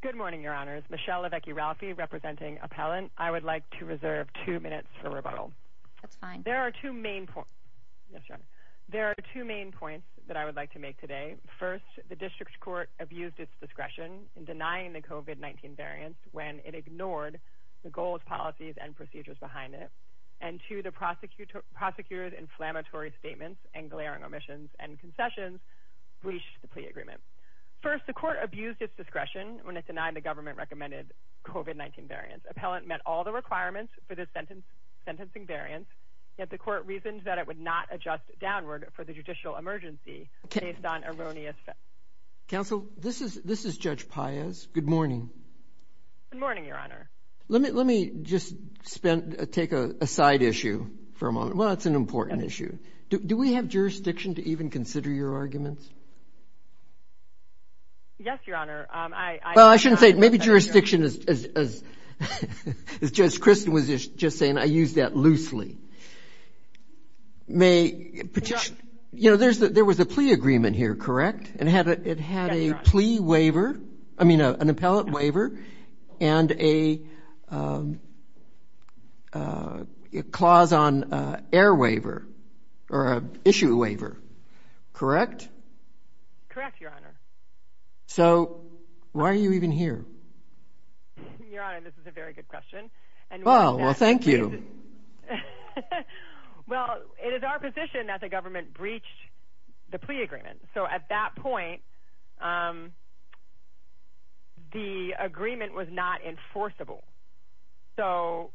Good morning, Your Honors. Michelle Lavecki-Ralphi, representing Appellant. I would like to reserve two minutes for rebuttal. That's fine. There are two main points that I would like to make today. First, the District Court abused its discretion in denying the COVID-19 variants when it ignored the goals, policies, and procedures behind it. And two, the prosecutor's inflammatory statements and glaring omissions and concessions breached the plea agreement. First, the Court abused its discretion when it denied the government-recommended COVID-19 variants. Appellant met all the requirements for the sentencing variants, yet the Court reasoned that it would not adjust downward for the judicial emergency based on erroneous facts. Counsel, this is Judge Paius. Good morning. Good morning, Your Honor. Let me just take a side issue for a moment. Well, it's an important issue. Do we have jurisdiction to even consider your arguments? Yes, Your Honor. Well, I shouldn't say it. Maybe jurisdiction, as Judge Christin was just saying, I use that loosely. You know, there was a plea agreement here, correct? Yes, Your Honor. It had a plea waiver, I mean, an appellate waiver and a clause on air waiver or issue waiver, correct? Correct, Your Honor. So, why are you even here? Your Honor, this is a very good question. Well, thank you. Well, it is our position that the government breached the plea agreement. So, at that point, the agreement was not enforceable. So,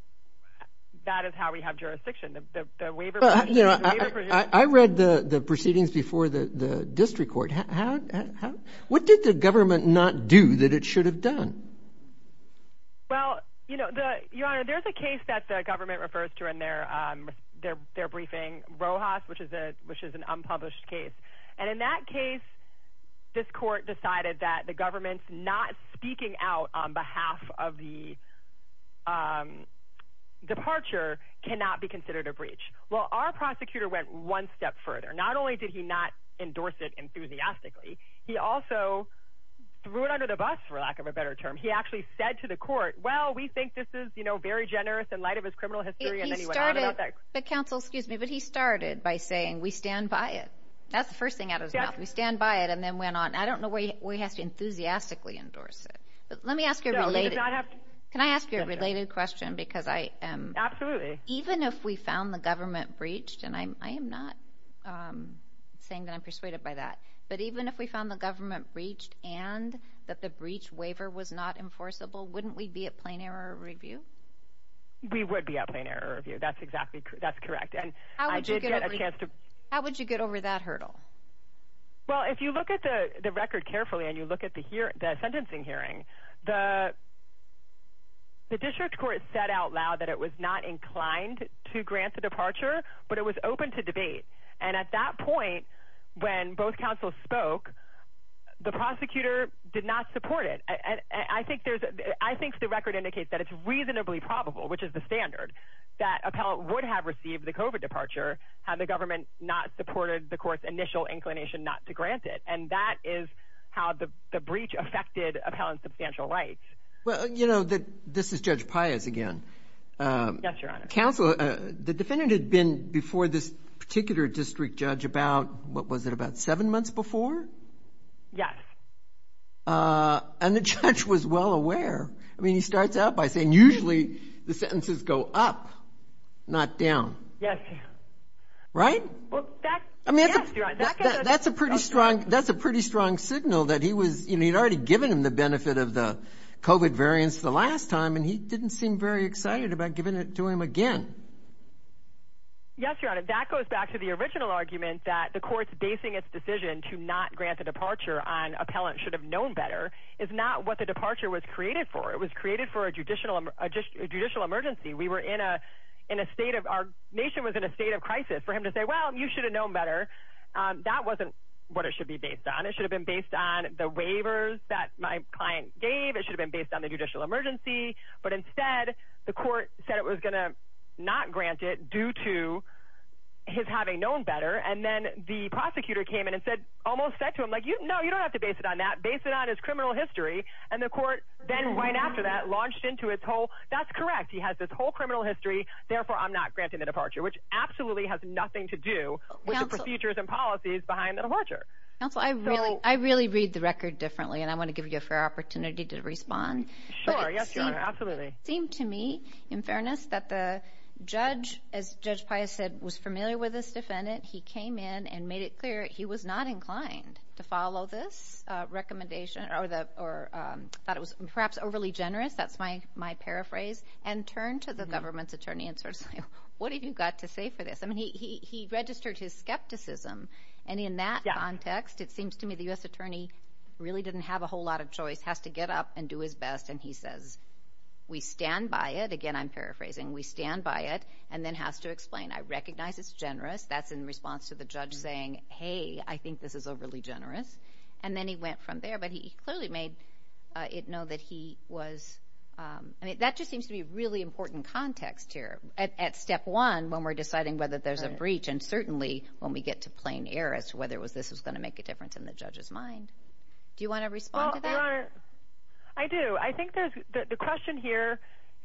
that is how we have jurisdiction. I read the proceedings before the district court. What did the government not do that it should have done? Well, Your Honor, there is a case that the government refers to in their briefing, Rojas, which is an unpublished case. And in that case, this court decided that the government's not speaking out on behalf of the departure cannot be considered a breach. Well, our prosecutor went one step further. Not only did he not endorse it enthusiastically, he also threw it under the bus, for lack of a better term. He actually said to the court, well, we think this is, you know, very generous in light of his criminal history. He started, but counsel, excuse me, but he started by saying, we stand by it. That's the first thing out of his mouth. We stand by it and then went on. I don't know where he has to enthusiastically endorse it. Let me ask you a related question. Can I ask you a related question? Absolutely. Even if we found the government breached, and I am not saying that I'm persuaded by that, but even if we found the government breached and that the breach waiver was not enforceable, wouldn't we be at plain error review? We would be at plain error review. That's exactly correct. How would you get over that hurdle? Well, if you look at the record carefully and you look at the sentencing hearing, the district court said out loud that it was not inclined to grant the departure, but it was open to debate. And at that point, when both counsels spoke, the prosecutor did not support it. I think the record indicates that it's reasonably probable, which is the standard, that Appellate would have received the COVID departure had the government not supported the court's initial inclination not to grant it. And that is how the breach affected Appellant's substantial rights. Well, you know, this is Judge Pius again. Yes, Your Honor. The defendant had been before this particular district judge about, what was it, about seven months before? Yes. And the judge was well aware. I mean, he starts out by saying, usually the sentences go up, not down. Yes. Right? Well, yes, Your Honor. That's a pretty strong signal that he was, you know, he'd already given him the benefit of the COVID variance the last time and he didn't seem very excited about giving it to him again. Yes, Your Honor. That goes back to the original argument that the court's basing its decision to not grant a departure on Appellant should have known better is not what the departure was created for. It was created for a judicial emergency. We were in a state of, our nation was in a state of crisis. For him to say, well, you should have known better, that wasn't what it should be based on. It should have been based on the waivers that my client gave. It should have been based on the judicial emergency. But instead, the court said it was going to not grant it due to his having known better. And then the prosecutor came in and said, almost said to him, like, no, you don't have to base it on that. Base it on his criminal history. And the court then right after that launched into its whole, that's correct. He has this whole criminal history. Therefore, I'm not granting the departure, which absolutely has nothing to do with the procedures and policies behind the departure. Counsel, I really read the record differently and I want to give you a fair opportunity to respond. Sure, yes, Your Honor, absolutely. It seemed to me, in fairness, that the judge, as Judge Pius said, was familiar with this defendant. He came in and made it clear he was not inclined to follow this recommendation or thought it was perhaps overly generous. That's my paraphrase. And turned to the government's attorney and sort of said, what have you got to say for this? I mean, he registered his skepticism. And in that context, it seems to me the U.S. Attorney really didn't have a whole lot of choice. He just has to get up and do his best. And he says, we stand by it. Again, I'm paraphrasing. We stand by it. And then has to explain, I recognize it's generous. That's in response to the judge saying, hey, I think this is overly generous. And then he went from there. But he clearly made it know that he was, I mean, that just seems to be a really important context here. At step one, when we're deciding whether there's a breach. And certainly when we get to plain error as to whether this was going to make a difference in the judge's mind. Do you want to respond to that? I do. I think the question here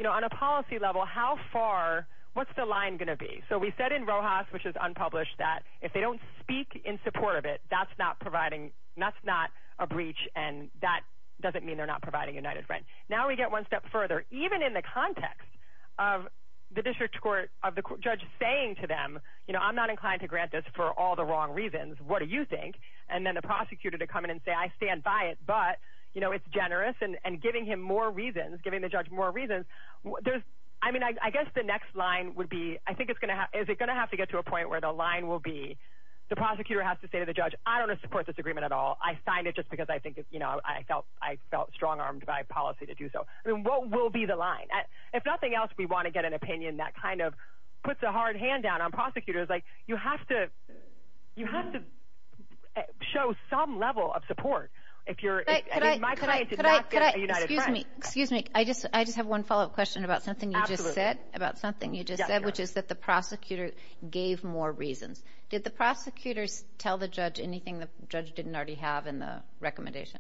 on a policy level, how far, what's the line going to be? So we said in Rojas, which is unpublished, that if they don't speak in support of it, that's not a breach. And that doesn't mean they're not providing United Rent. Now we get one step further. Even in the context of the district court, of the judge saying to them, I'm not inclined to grant this for all the wrong reasons. What do you think? And then the prosecutor to come in and say, I stand by it, but, you know, it's generous. And giving him more reasons, giving the judge more reasons. I mean, I guess the next line would be, I think it's going to have, is it going to have to get to a point where the line will be, the prosecutor has to say to the judge, I don't want to support this agreement at all. I signed it just because I think, you know, I felt strong-armed by policy to do so. I mean, what will be the line? If nothing else, we want to get an opinion that kind of puts a hard hand down on prosecutors. You have to show some level of support. I mean, my client did not get a United Rent. Excuse me. I just have one follow-up question about something you just said. Absolutely. About something you just said, which is that the prosecutor gave more reasons. Did the prosecutors tell the judge anything the judge didn't already have in the recommendation?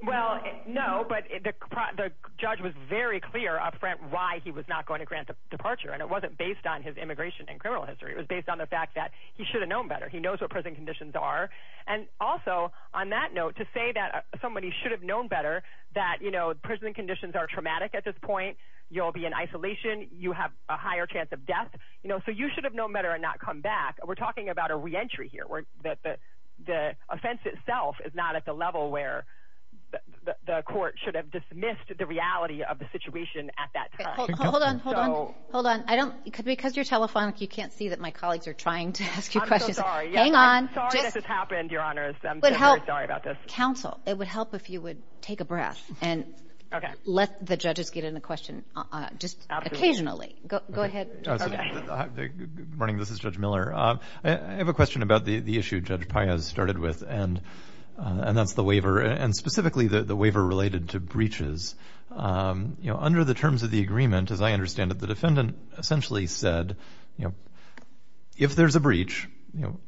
Well, no, but the judge was very clear upfront why he was not going to grant the departure. And it wasn't based on his immigration and criminal history. It was based on the fact that he should have known better. He knows what prison conditions are. And also, on that note, to say that somebody should have known better, that prison conditions are traumatic at this point. You'll be in isolation. You have a higher chance of death. So you should have known better and not come back. We're talking about a reentry here. The offense itself is not at the level where the court should have dismissed the reality of the situation at that time. Hold on. Hold on. Because you're telephonic, you can't see that my colleagues are trying to ask you questions. I'm so sorry. Hang on. Sorry this has happened, Your Honors. I'm very sorry about this. Counsel, it would help if you would take a breath and let the judges get in a question just occasionally. Go ahead. Good morning. This is Judge Miller. I have a question about the issue Judge Paez started with, and that's the waiver, and specifically the waiver related to breaches. Under the terms of the agreement, as I understand it, the defendant essentially said, if there's a breach,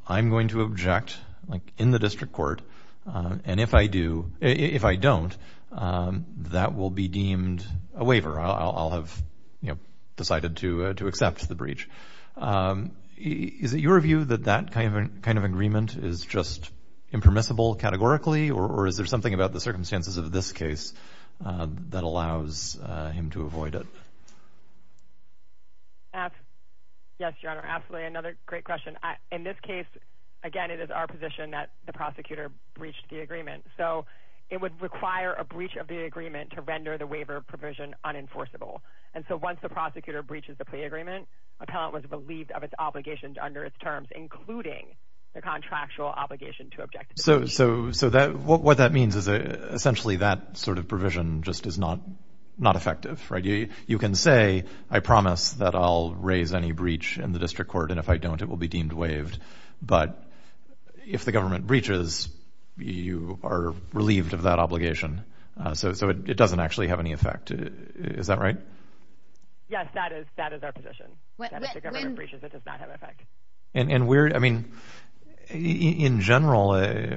I'm going to object in the district court, and if I don't, that will be deemed a waiver. I'll have decided to accept the breach. Is it your view that that kind of agreement is just impermissible categorically, or is there something about the circumstances of this case that allows him to avoid it? Yes, Your Honor. Absolutely. Another great question. In this case, again, it is our position that the prosecutor breached the agreement. So it would require a breach of the agreement to render the waiver provision unenforceable. And so once the prosecutor breaches the plea agreement, appellant was believed of its obligations under its terms, including the contractual obligation to object. So what that means is essentially that sort of provision just is not effective, right? You can say, I promise that I'll raise any breach in the district court, and if I don't, it will be deemed waived. But if the government breaches, you are relieved of that obligation. So it doesn't actually have any effect. Is that right? Yes, that is our position. If the government breaches, it does not have effect. In general,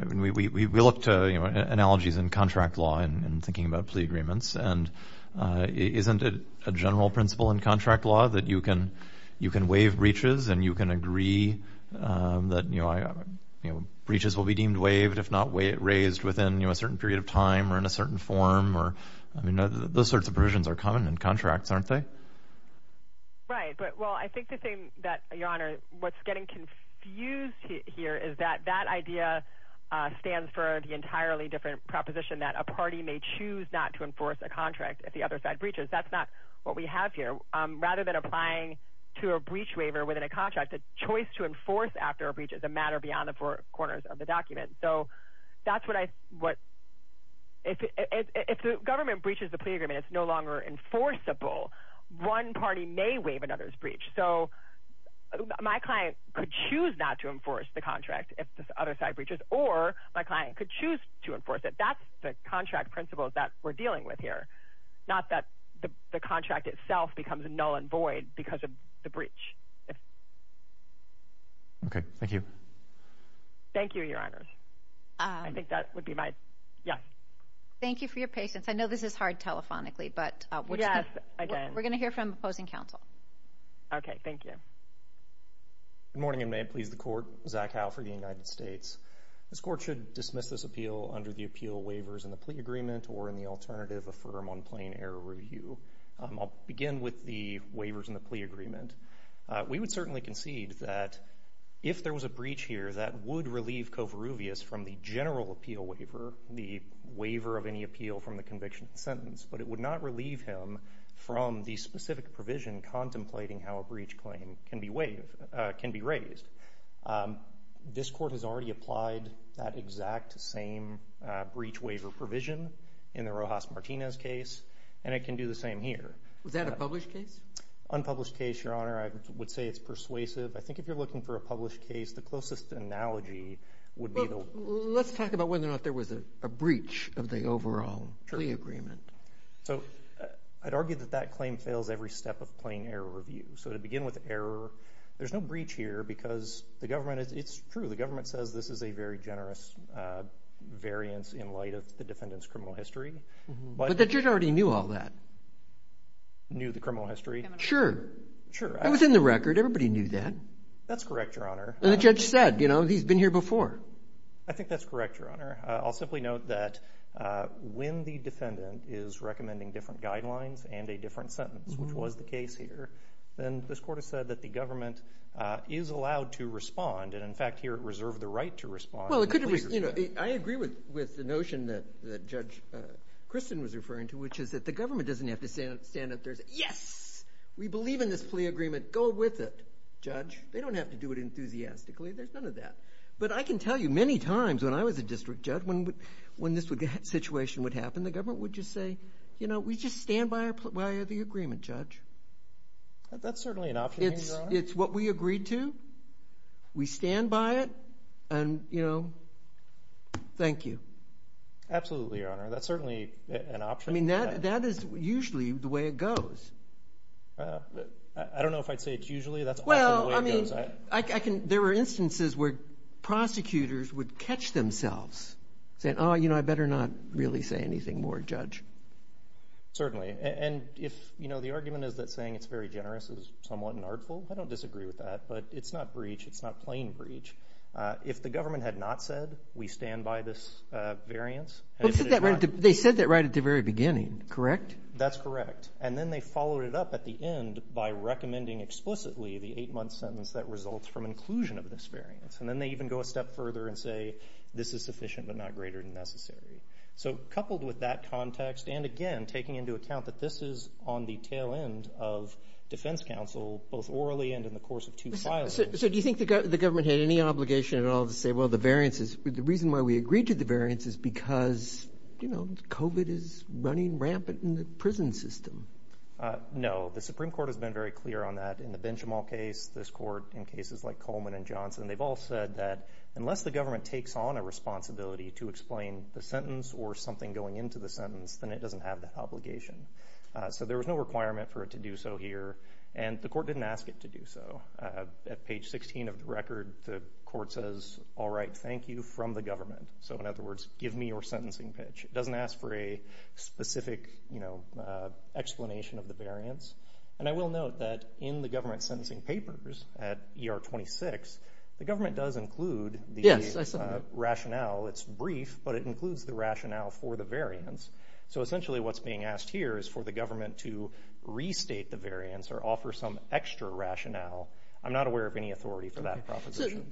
we look to analogies in contract law and thinking about plea agreements, and isn't it a general principle in contract law that you can waive breaches and you can agree that breaches will be deemed waived, if not raised within a certain period of time or in a certain form? Those sorts of provisions are common in contracts, aren't they? Right. Well, I think the thing that, Your Honor, what's getting confused here is that that idea stands for the entirely different proposition that a party may choose not to enforce a contract if the other side breaches. That's not what we have here. Rather than applying to a breach waiver within a contract, the choice to enforce after a breach is a matter beyond the four corners of the document. So that's what I, what, if the government breaches the plea agreement, it's no longer enforceable. One party may waive another's breach. So my client could choose not to enforce the contract if the other side breaches, or my client could choose to enforce it. That's the contract principles that we're dealing with here. Not that the contract itself becomes null and void because of the breach. Okay, thank you. Thank you, Your Honors. I think that would be my, yeah. Thank you for your patience. I know this is hard telephonically, but would you... We're going to hear from opposing counsel. Okay, thank you. Good morning, and may it please the Court. Zach Howe for the United States. This Court should dismiss this appeal under the appeal waivers in the plea agreement or in the alternative affirm on plain error review. I'll begin with the waivers in the plea agreement. We would certainly concede that if there was a breach here that would relieve Covarrubias from the general appeal waiver, the waiver of any appeal from the conviction sentence, but it would not relieve him from the specific provision contemplating how a breach claim can be raised. This Court has already applied that exact same breach waiver provision in the Rojas-Martinez case, and it can do the same here. Was that a published case? Unpublished case, Your Honor. I would say it's persuasive. I think if you're looking for a published case, the closest analogy would be... Let's talk about whether or not there was a breach of the overall plea agreement. So I'd argue that that claim fails every step of plain error review. So to begin with error, there's no breach here because the government... It's true, the government says this is a very generous variance in light of the defendant's criminal history, but... But the judge already knew all that. Knew the criminal history? Sure. Sure. It was in the record. Everybody knew that. That's correct, Your Honor. And the judge said, you know, he's been here before. I think that's correct, Your Honor. I'll simply note that when the defendant is recommending different guidelines and a different sentence, which was the case here, then this court has said that the government is allowed to respond, and in fact here it reserved the right to respond. Well, it could have... I agree with the notion that Judge Christin was referring to, which is that the government doesn't have to stand up and say, yes, we believe in this plea agreement, go with it, judge. They don't have to do it enthusiastically. There's none of that. But I can tell you many times when I was a district judge, when this situation would happen, the government would just say, you know, we just stand by the agreement, judge. That's certainly an option, Your Honor. It's what we agreed to. We stand by it. And, you know, thank you. Absolutely, Your Honor. That's certainly an option. I mean, that is usually the way it goes. There were instances where prosecutors would catch themselves saying, oh, you know, I better not really say anything more, judge. Certainly. And if, you know, the argument is that saying it's very generous is somewhat an artful, I don't disagree with that, but it's not breach. It's not plain breach. If the government had not said we stand by this variance... They said that right at the very beginning, correct? That's correct. And then they followed it up at the end by recommending explicitly the eight-month sentence that results from inclusion of this variance. And then they even go a step further and say, this is sufficient but not greater than necessary. So coupled with that context, and again, taking into account that this is on the tail end of defense counsel, both orally and in the course of two filings... So do you think the government had any obligation at all to say, well, the variance is... The reason why we agreed to the variance is because, you know, COVID is running rampant in the prison system. No. The Supreme Court has been very clear on that in the Benjamin case, this court, in cases like Coleman and Johnson. They've all said that unless the government takes on a responsibility to explain the sentence or something going into the sentence, then it doesn't have the obligation. So there was no requirement for it to do so here, and the court didn't ask it to do so. At page 16 of the record, the court says, all right, thank you from the government. So in other words, give me your sentencing pitch. It doesn't ask for a specific, you know, explanation of the variance. And I will note that in the government sentencing papers at ER 26, the government does include the rationale. It's brief, but it includes the rationale for the variance. So essentially what's being asked here is for the government to restate the variance or offer some extra rationale. I'm not aware of any authority for that proposition.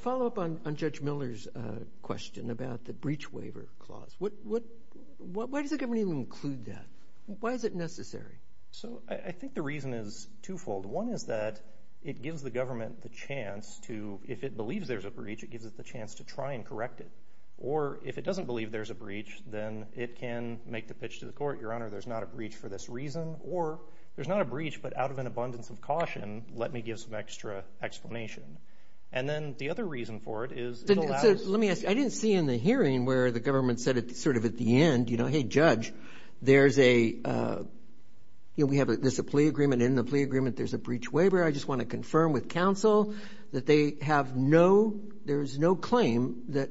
Follow up on Judge Miller's question about the breach waiver clause. Why does the government even include that? Why is it necessary? So I think the reason is twofold. One is that it gives the government the chance to, if it believes there's a breach, it gives it the chance to try and correct it. Or if it doesn't believe there's a breach, then it can make the pitch to the court, Your Honor, there's not a breach for this reason. Or there's not a breach, but out of an abundance of caution, let me give some extra explanation. And then the other reason for it is it allows... Let me ask you, I didn't see in the hearing where the government said it sort of at the end, you know, hey, Judge, there's a plea agreement. In the plea agreement, there's a breach waiver. I just want to confirm with counsel that they have no, there's no claim that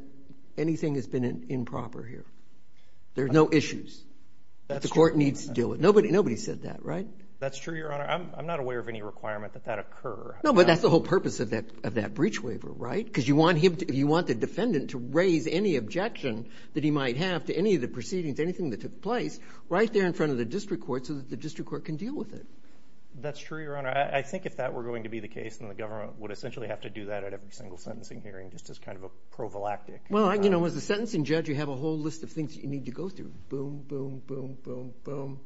anything has been improper here. There's no issues. That's true. The court needs to deal with it. Nobody said that, right? That's true, Your Honor. I'm not aware of any requirement that that occur. No, but that's the whole purpose of that breach waiver, right? Because you want him to, you want the defendant to raise any objection that he might have to any of the proceedings, anything that took place, right there in front of the district court so that the district court can deal with it. That's true, Your Honor. I think if that were going to be the case, then the government would essentially have to do that at every single sentencing hearing, just as kind of a prophylactic. Well, you know, as a sentencing judge, you have a whole list of things you need to go through. Boom, boom, boom, boom, boom.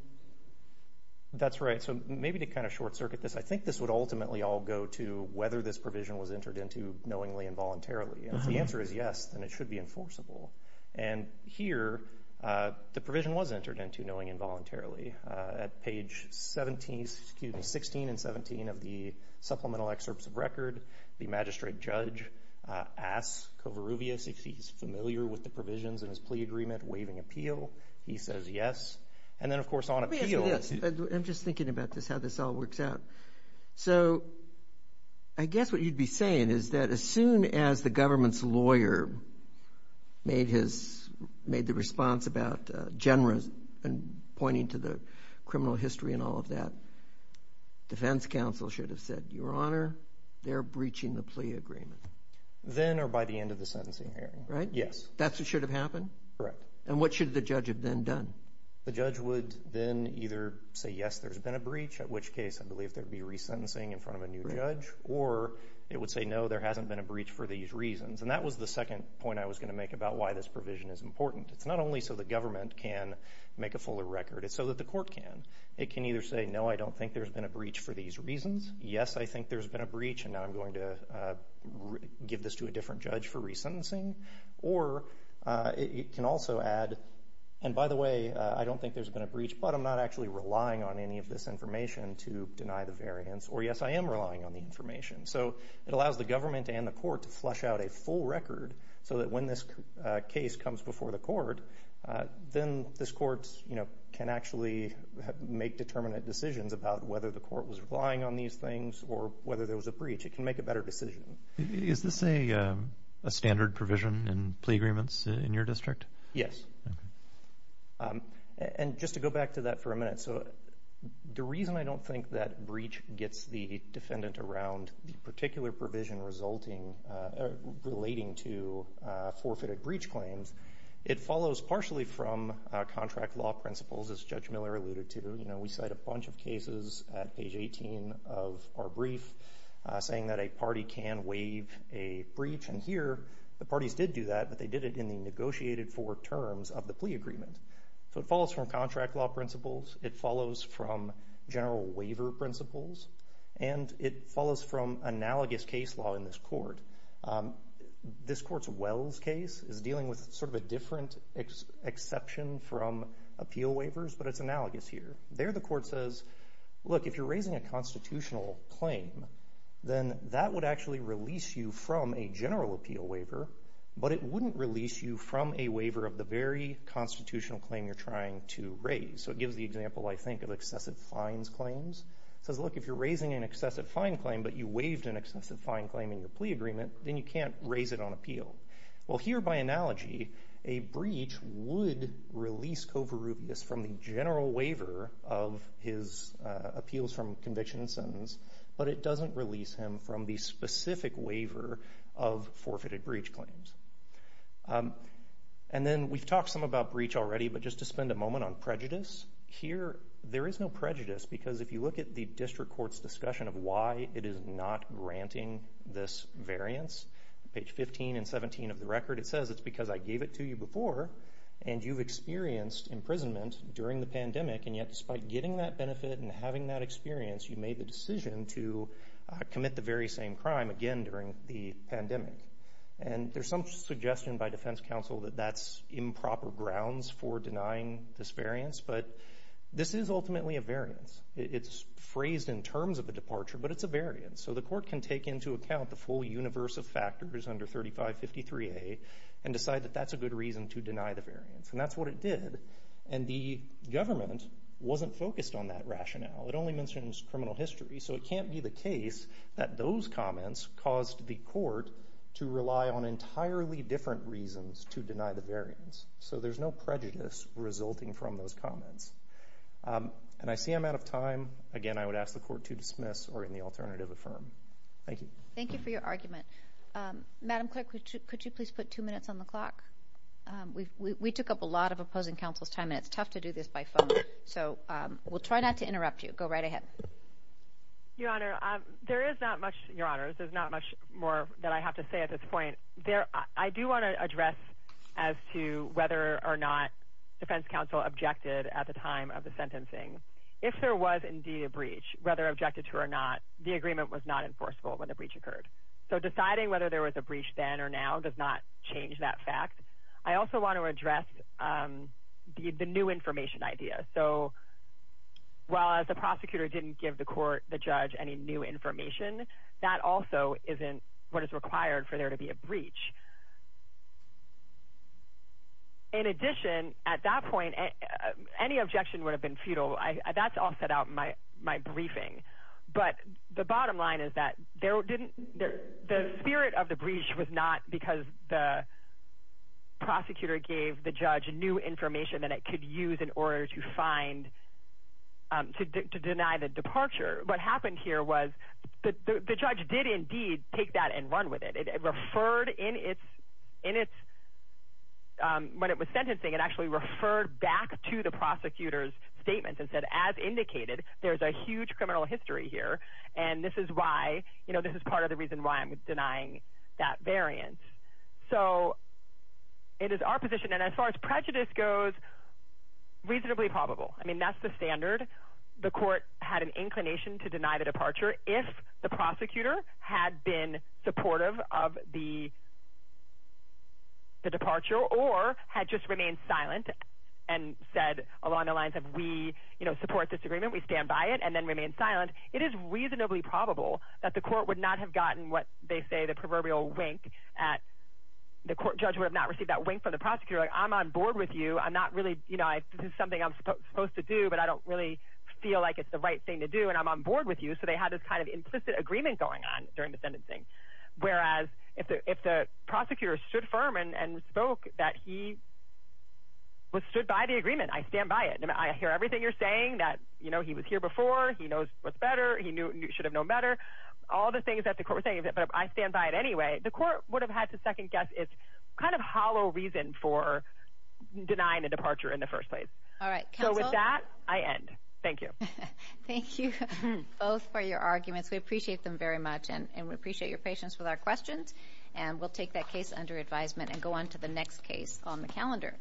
That's right. So maybe to kind of short-circuit this, I think this would ultimately all go to whether this provision was entered into knowingly and voluntarily. If the answer is yes, then it should be enforceable. And here, the provision was entered into knowing involuntarily. At page 17, excuse me, 16 and 17 of the Supplemental Excerpts of Record, the magistrate judge asks Covarrubias if he's familiar with the provisions in his plea agreement waiving appeal. He says yes. And then, of course, on appeal... Let me ask you this. I'm just thinking about this, how this all works out. So I guess what you'd be saying is that as soon as the government's lawyer made the response about general and pointing to the criminal history and all of that, defense counsel should have said, Your Honor, they're breaching the plea agreement. Then or by the end of the sentencing hearing. Right? Yes. That's what should have happened? Correct. And what should the judge have then done? The judge would then either say, yes, there's been a breach, at which case I believe there'd be resentencing in front of a new judge, or it would say, no, there hasn't been a breach for these reasons. And that was the second point I was going to make about why this provision is important. It's not only so the government can make a fuller record. It's so that the court can. It can either say, no, I don't think there's been a breach for these reasons. Yes, I think there's been a breach, and now I'm going to give this to a different judge for resentencing. Or it can also add, and by the way, I don't think there's been a breach, but I'm not actually relying on any of this information to deny the variance. Or yes, I am relying on the information. So it allows the government and the court to flush out a full record so that when this case comes before the court, then this court can actually make determinate decisions about whether the court was relying on these things or whether there was a breach. It can make a better decision. Is this a standard provision in plea agreements in your district? Yes. And just to go back to that for a minute, so the reason I don't think that breach gets the defendant around the particular provision resulting, relating to forfeited breach claims, it follows partially from contract law principles as Judge Miller alluded to. We cite a bunch of cases at page 18 of our brief saying that a party can waive a breach. And here, the parties did do that, but they did it in the negotiated for terms of the plea agreement. So it follows from contract law principles. It follows from general waiver principles. And it follows from analogous case law in this court. This court's Wells case is dealing with sort of a different exception from appeal waivers, but it's analogous here. There, the court says, look, if you're raising a constitutional claim, then that would actually release you from a general appeal waiver, but it wouldn't release you from a waiver of the very constitutional claim you're trying to raise. So it gives the example, I think, of excessive fines claims. It says, look, if you're raising an excessive fine claim, but you waived an excessive fine claim in your plea agreement, then you can't raise it on appeal. Well, here, by analogy, a breach would release Covarrubias from the general waiver of his appeals from conviction and sentence, but it doesn't release him from the specific waiver of forfeited breach claims. And then we've talked some about breach already, but just to spend a moment on prejudice, here, there is no prejudice because if you look at the district court's discussion of why it is not granting this variance, page 15 and 17 of the record, it says, it's because I gave it to you before and you've experienced imprisonment during the pandemic and yet despite getting that benefit and having that experience, you made the decision to commit the very same crime again during the pandemic. And there's some suggestion by defense counsel that that's improper grounds for denying this variance, but this is ultimately a variance. It's phrased in terms of a departure, but it's a variance. So the court can take into account the full universe of factors under 3553A and decide that that's a good reason to deny the variance. And that's what it did. And the government wasn't focused on that rationale. It only mentions criminal history, so it can't be the case that those comments caused the court to rely on entirely different reasons to deny the variance. So there's no prejudice resulting from those comments. And I see I'm out of time. Again, I would ask the court to dismiss or in the alternative, affirm. Thank you. Thank you for your argument. Madam Clerk, could you please put two minutes on the clock? We took up a lot of opposing counsel's time, and it's tough to do this by phone. So we'll try not to interrupt you. Go right ahead. Your Honor, there is not much more that I have to say at this point. I do want to address as to whether or not defense counsel objected at the time of the sentencing. If there was indeed a breach, whether objected to or not, the agreement was not enforceable when the breach occurred. So deciding whether there was a breach then or now does not change that fact. I also want to address the new information idea. So while the prosecutor didn't give the court, the judge, any new information, that also isn't what is required for there to be a breach. In addition, at that point, any objection would have been futile. That's all set out in my briefing. But the bottom line is that the spirit of the breach was not because the prosecutor gave the judge new information that it could use in order to find, to deny the departure. What happened here was the judge did indeed take that and run with it. It referred in its, when it was sentencing, it actually referred back to the prosecutor's statement and said, as indicated, there's a huge criminal history here and this is why, this is part of the reason why I'm denying that variant. So it is our position, and as far as prejudice goes, reasonably probable. I mean, that's the standard. The court had an inclination to deny the departure if the prosecutor had been supportive of the departure or had just remained silent and said along the lines of, we support this agreement, we stand by it, and then remained silent. It is reasonably probable that the court would not have gotten what they say the proverbial wink at, the court judge would have not received that wink from the prosecutor, like, I'm on board with you, I'm not really, this is something I'm supposed to do, but I don't really feel like it's the right thing to do and I'm on board with you. So they had this kind of implicit agreement going on during the sentencing. Whereas, if the prosecutor stood firm and spoke that he was stood by the agreement, I stand by it, I hear everything you're saying, that he was here before, he knows what's better, he should have known better, all the things that the court was saying, but I stand by it anyway, the court would have had to second guess its kind of hollow reason for denying the departure in the first place. So with that, I end. Thank you. Thank you both for your arguments, we appreciate them very much and we appreciate your patience with our questions and we'll take that case under advisement and go on to the next case on the calendar.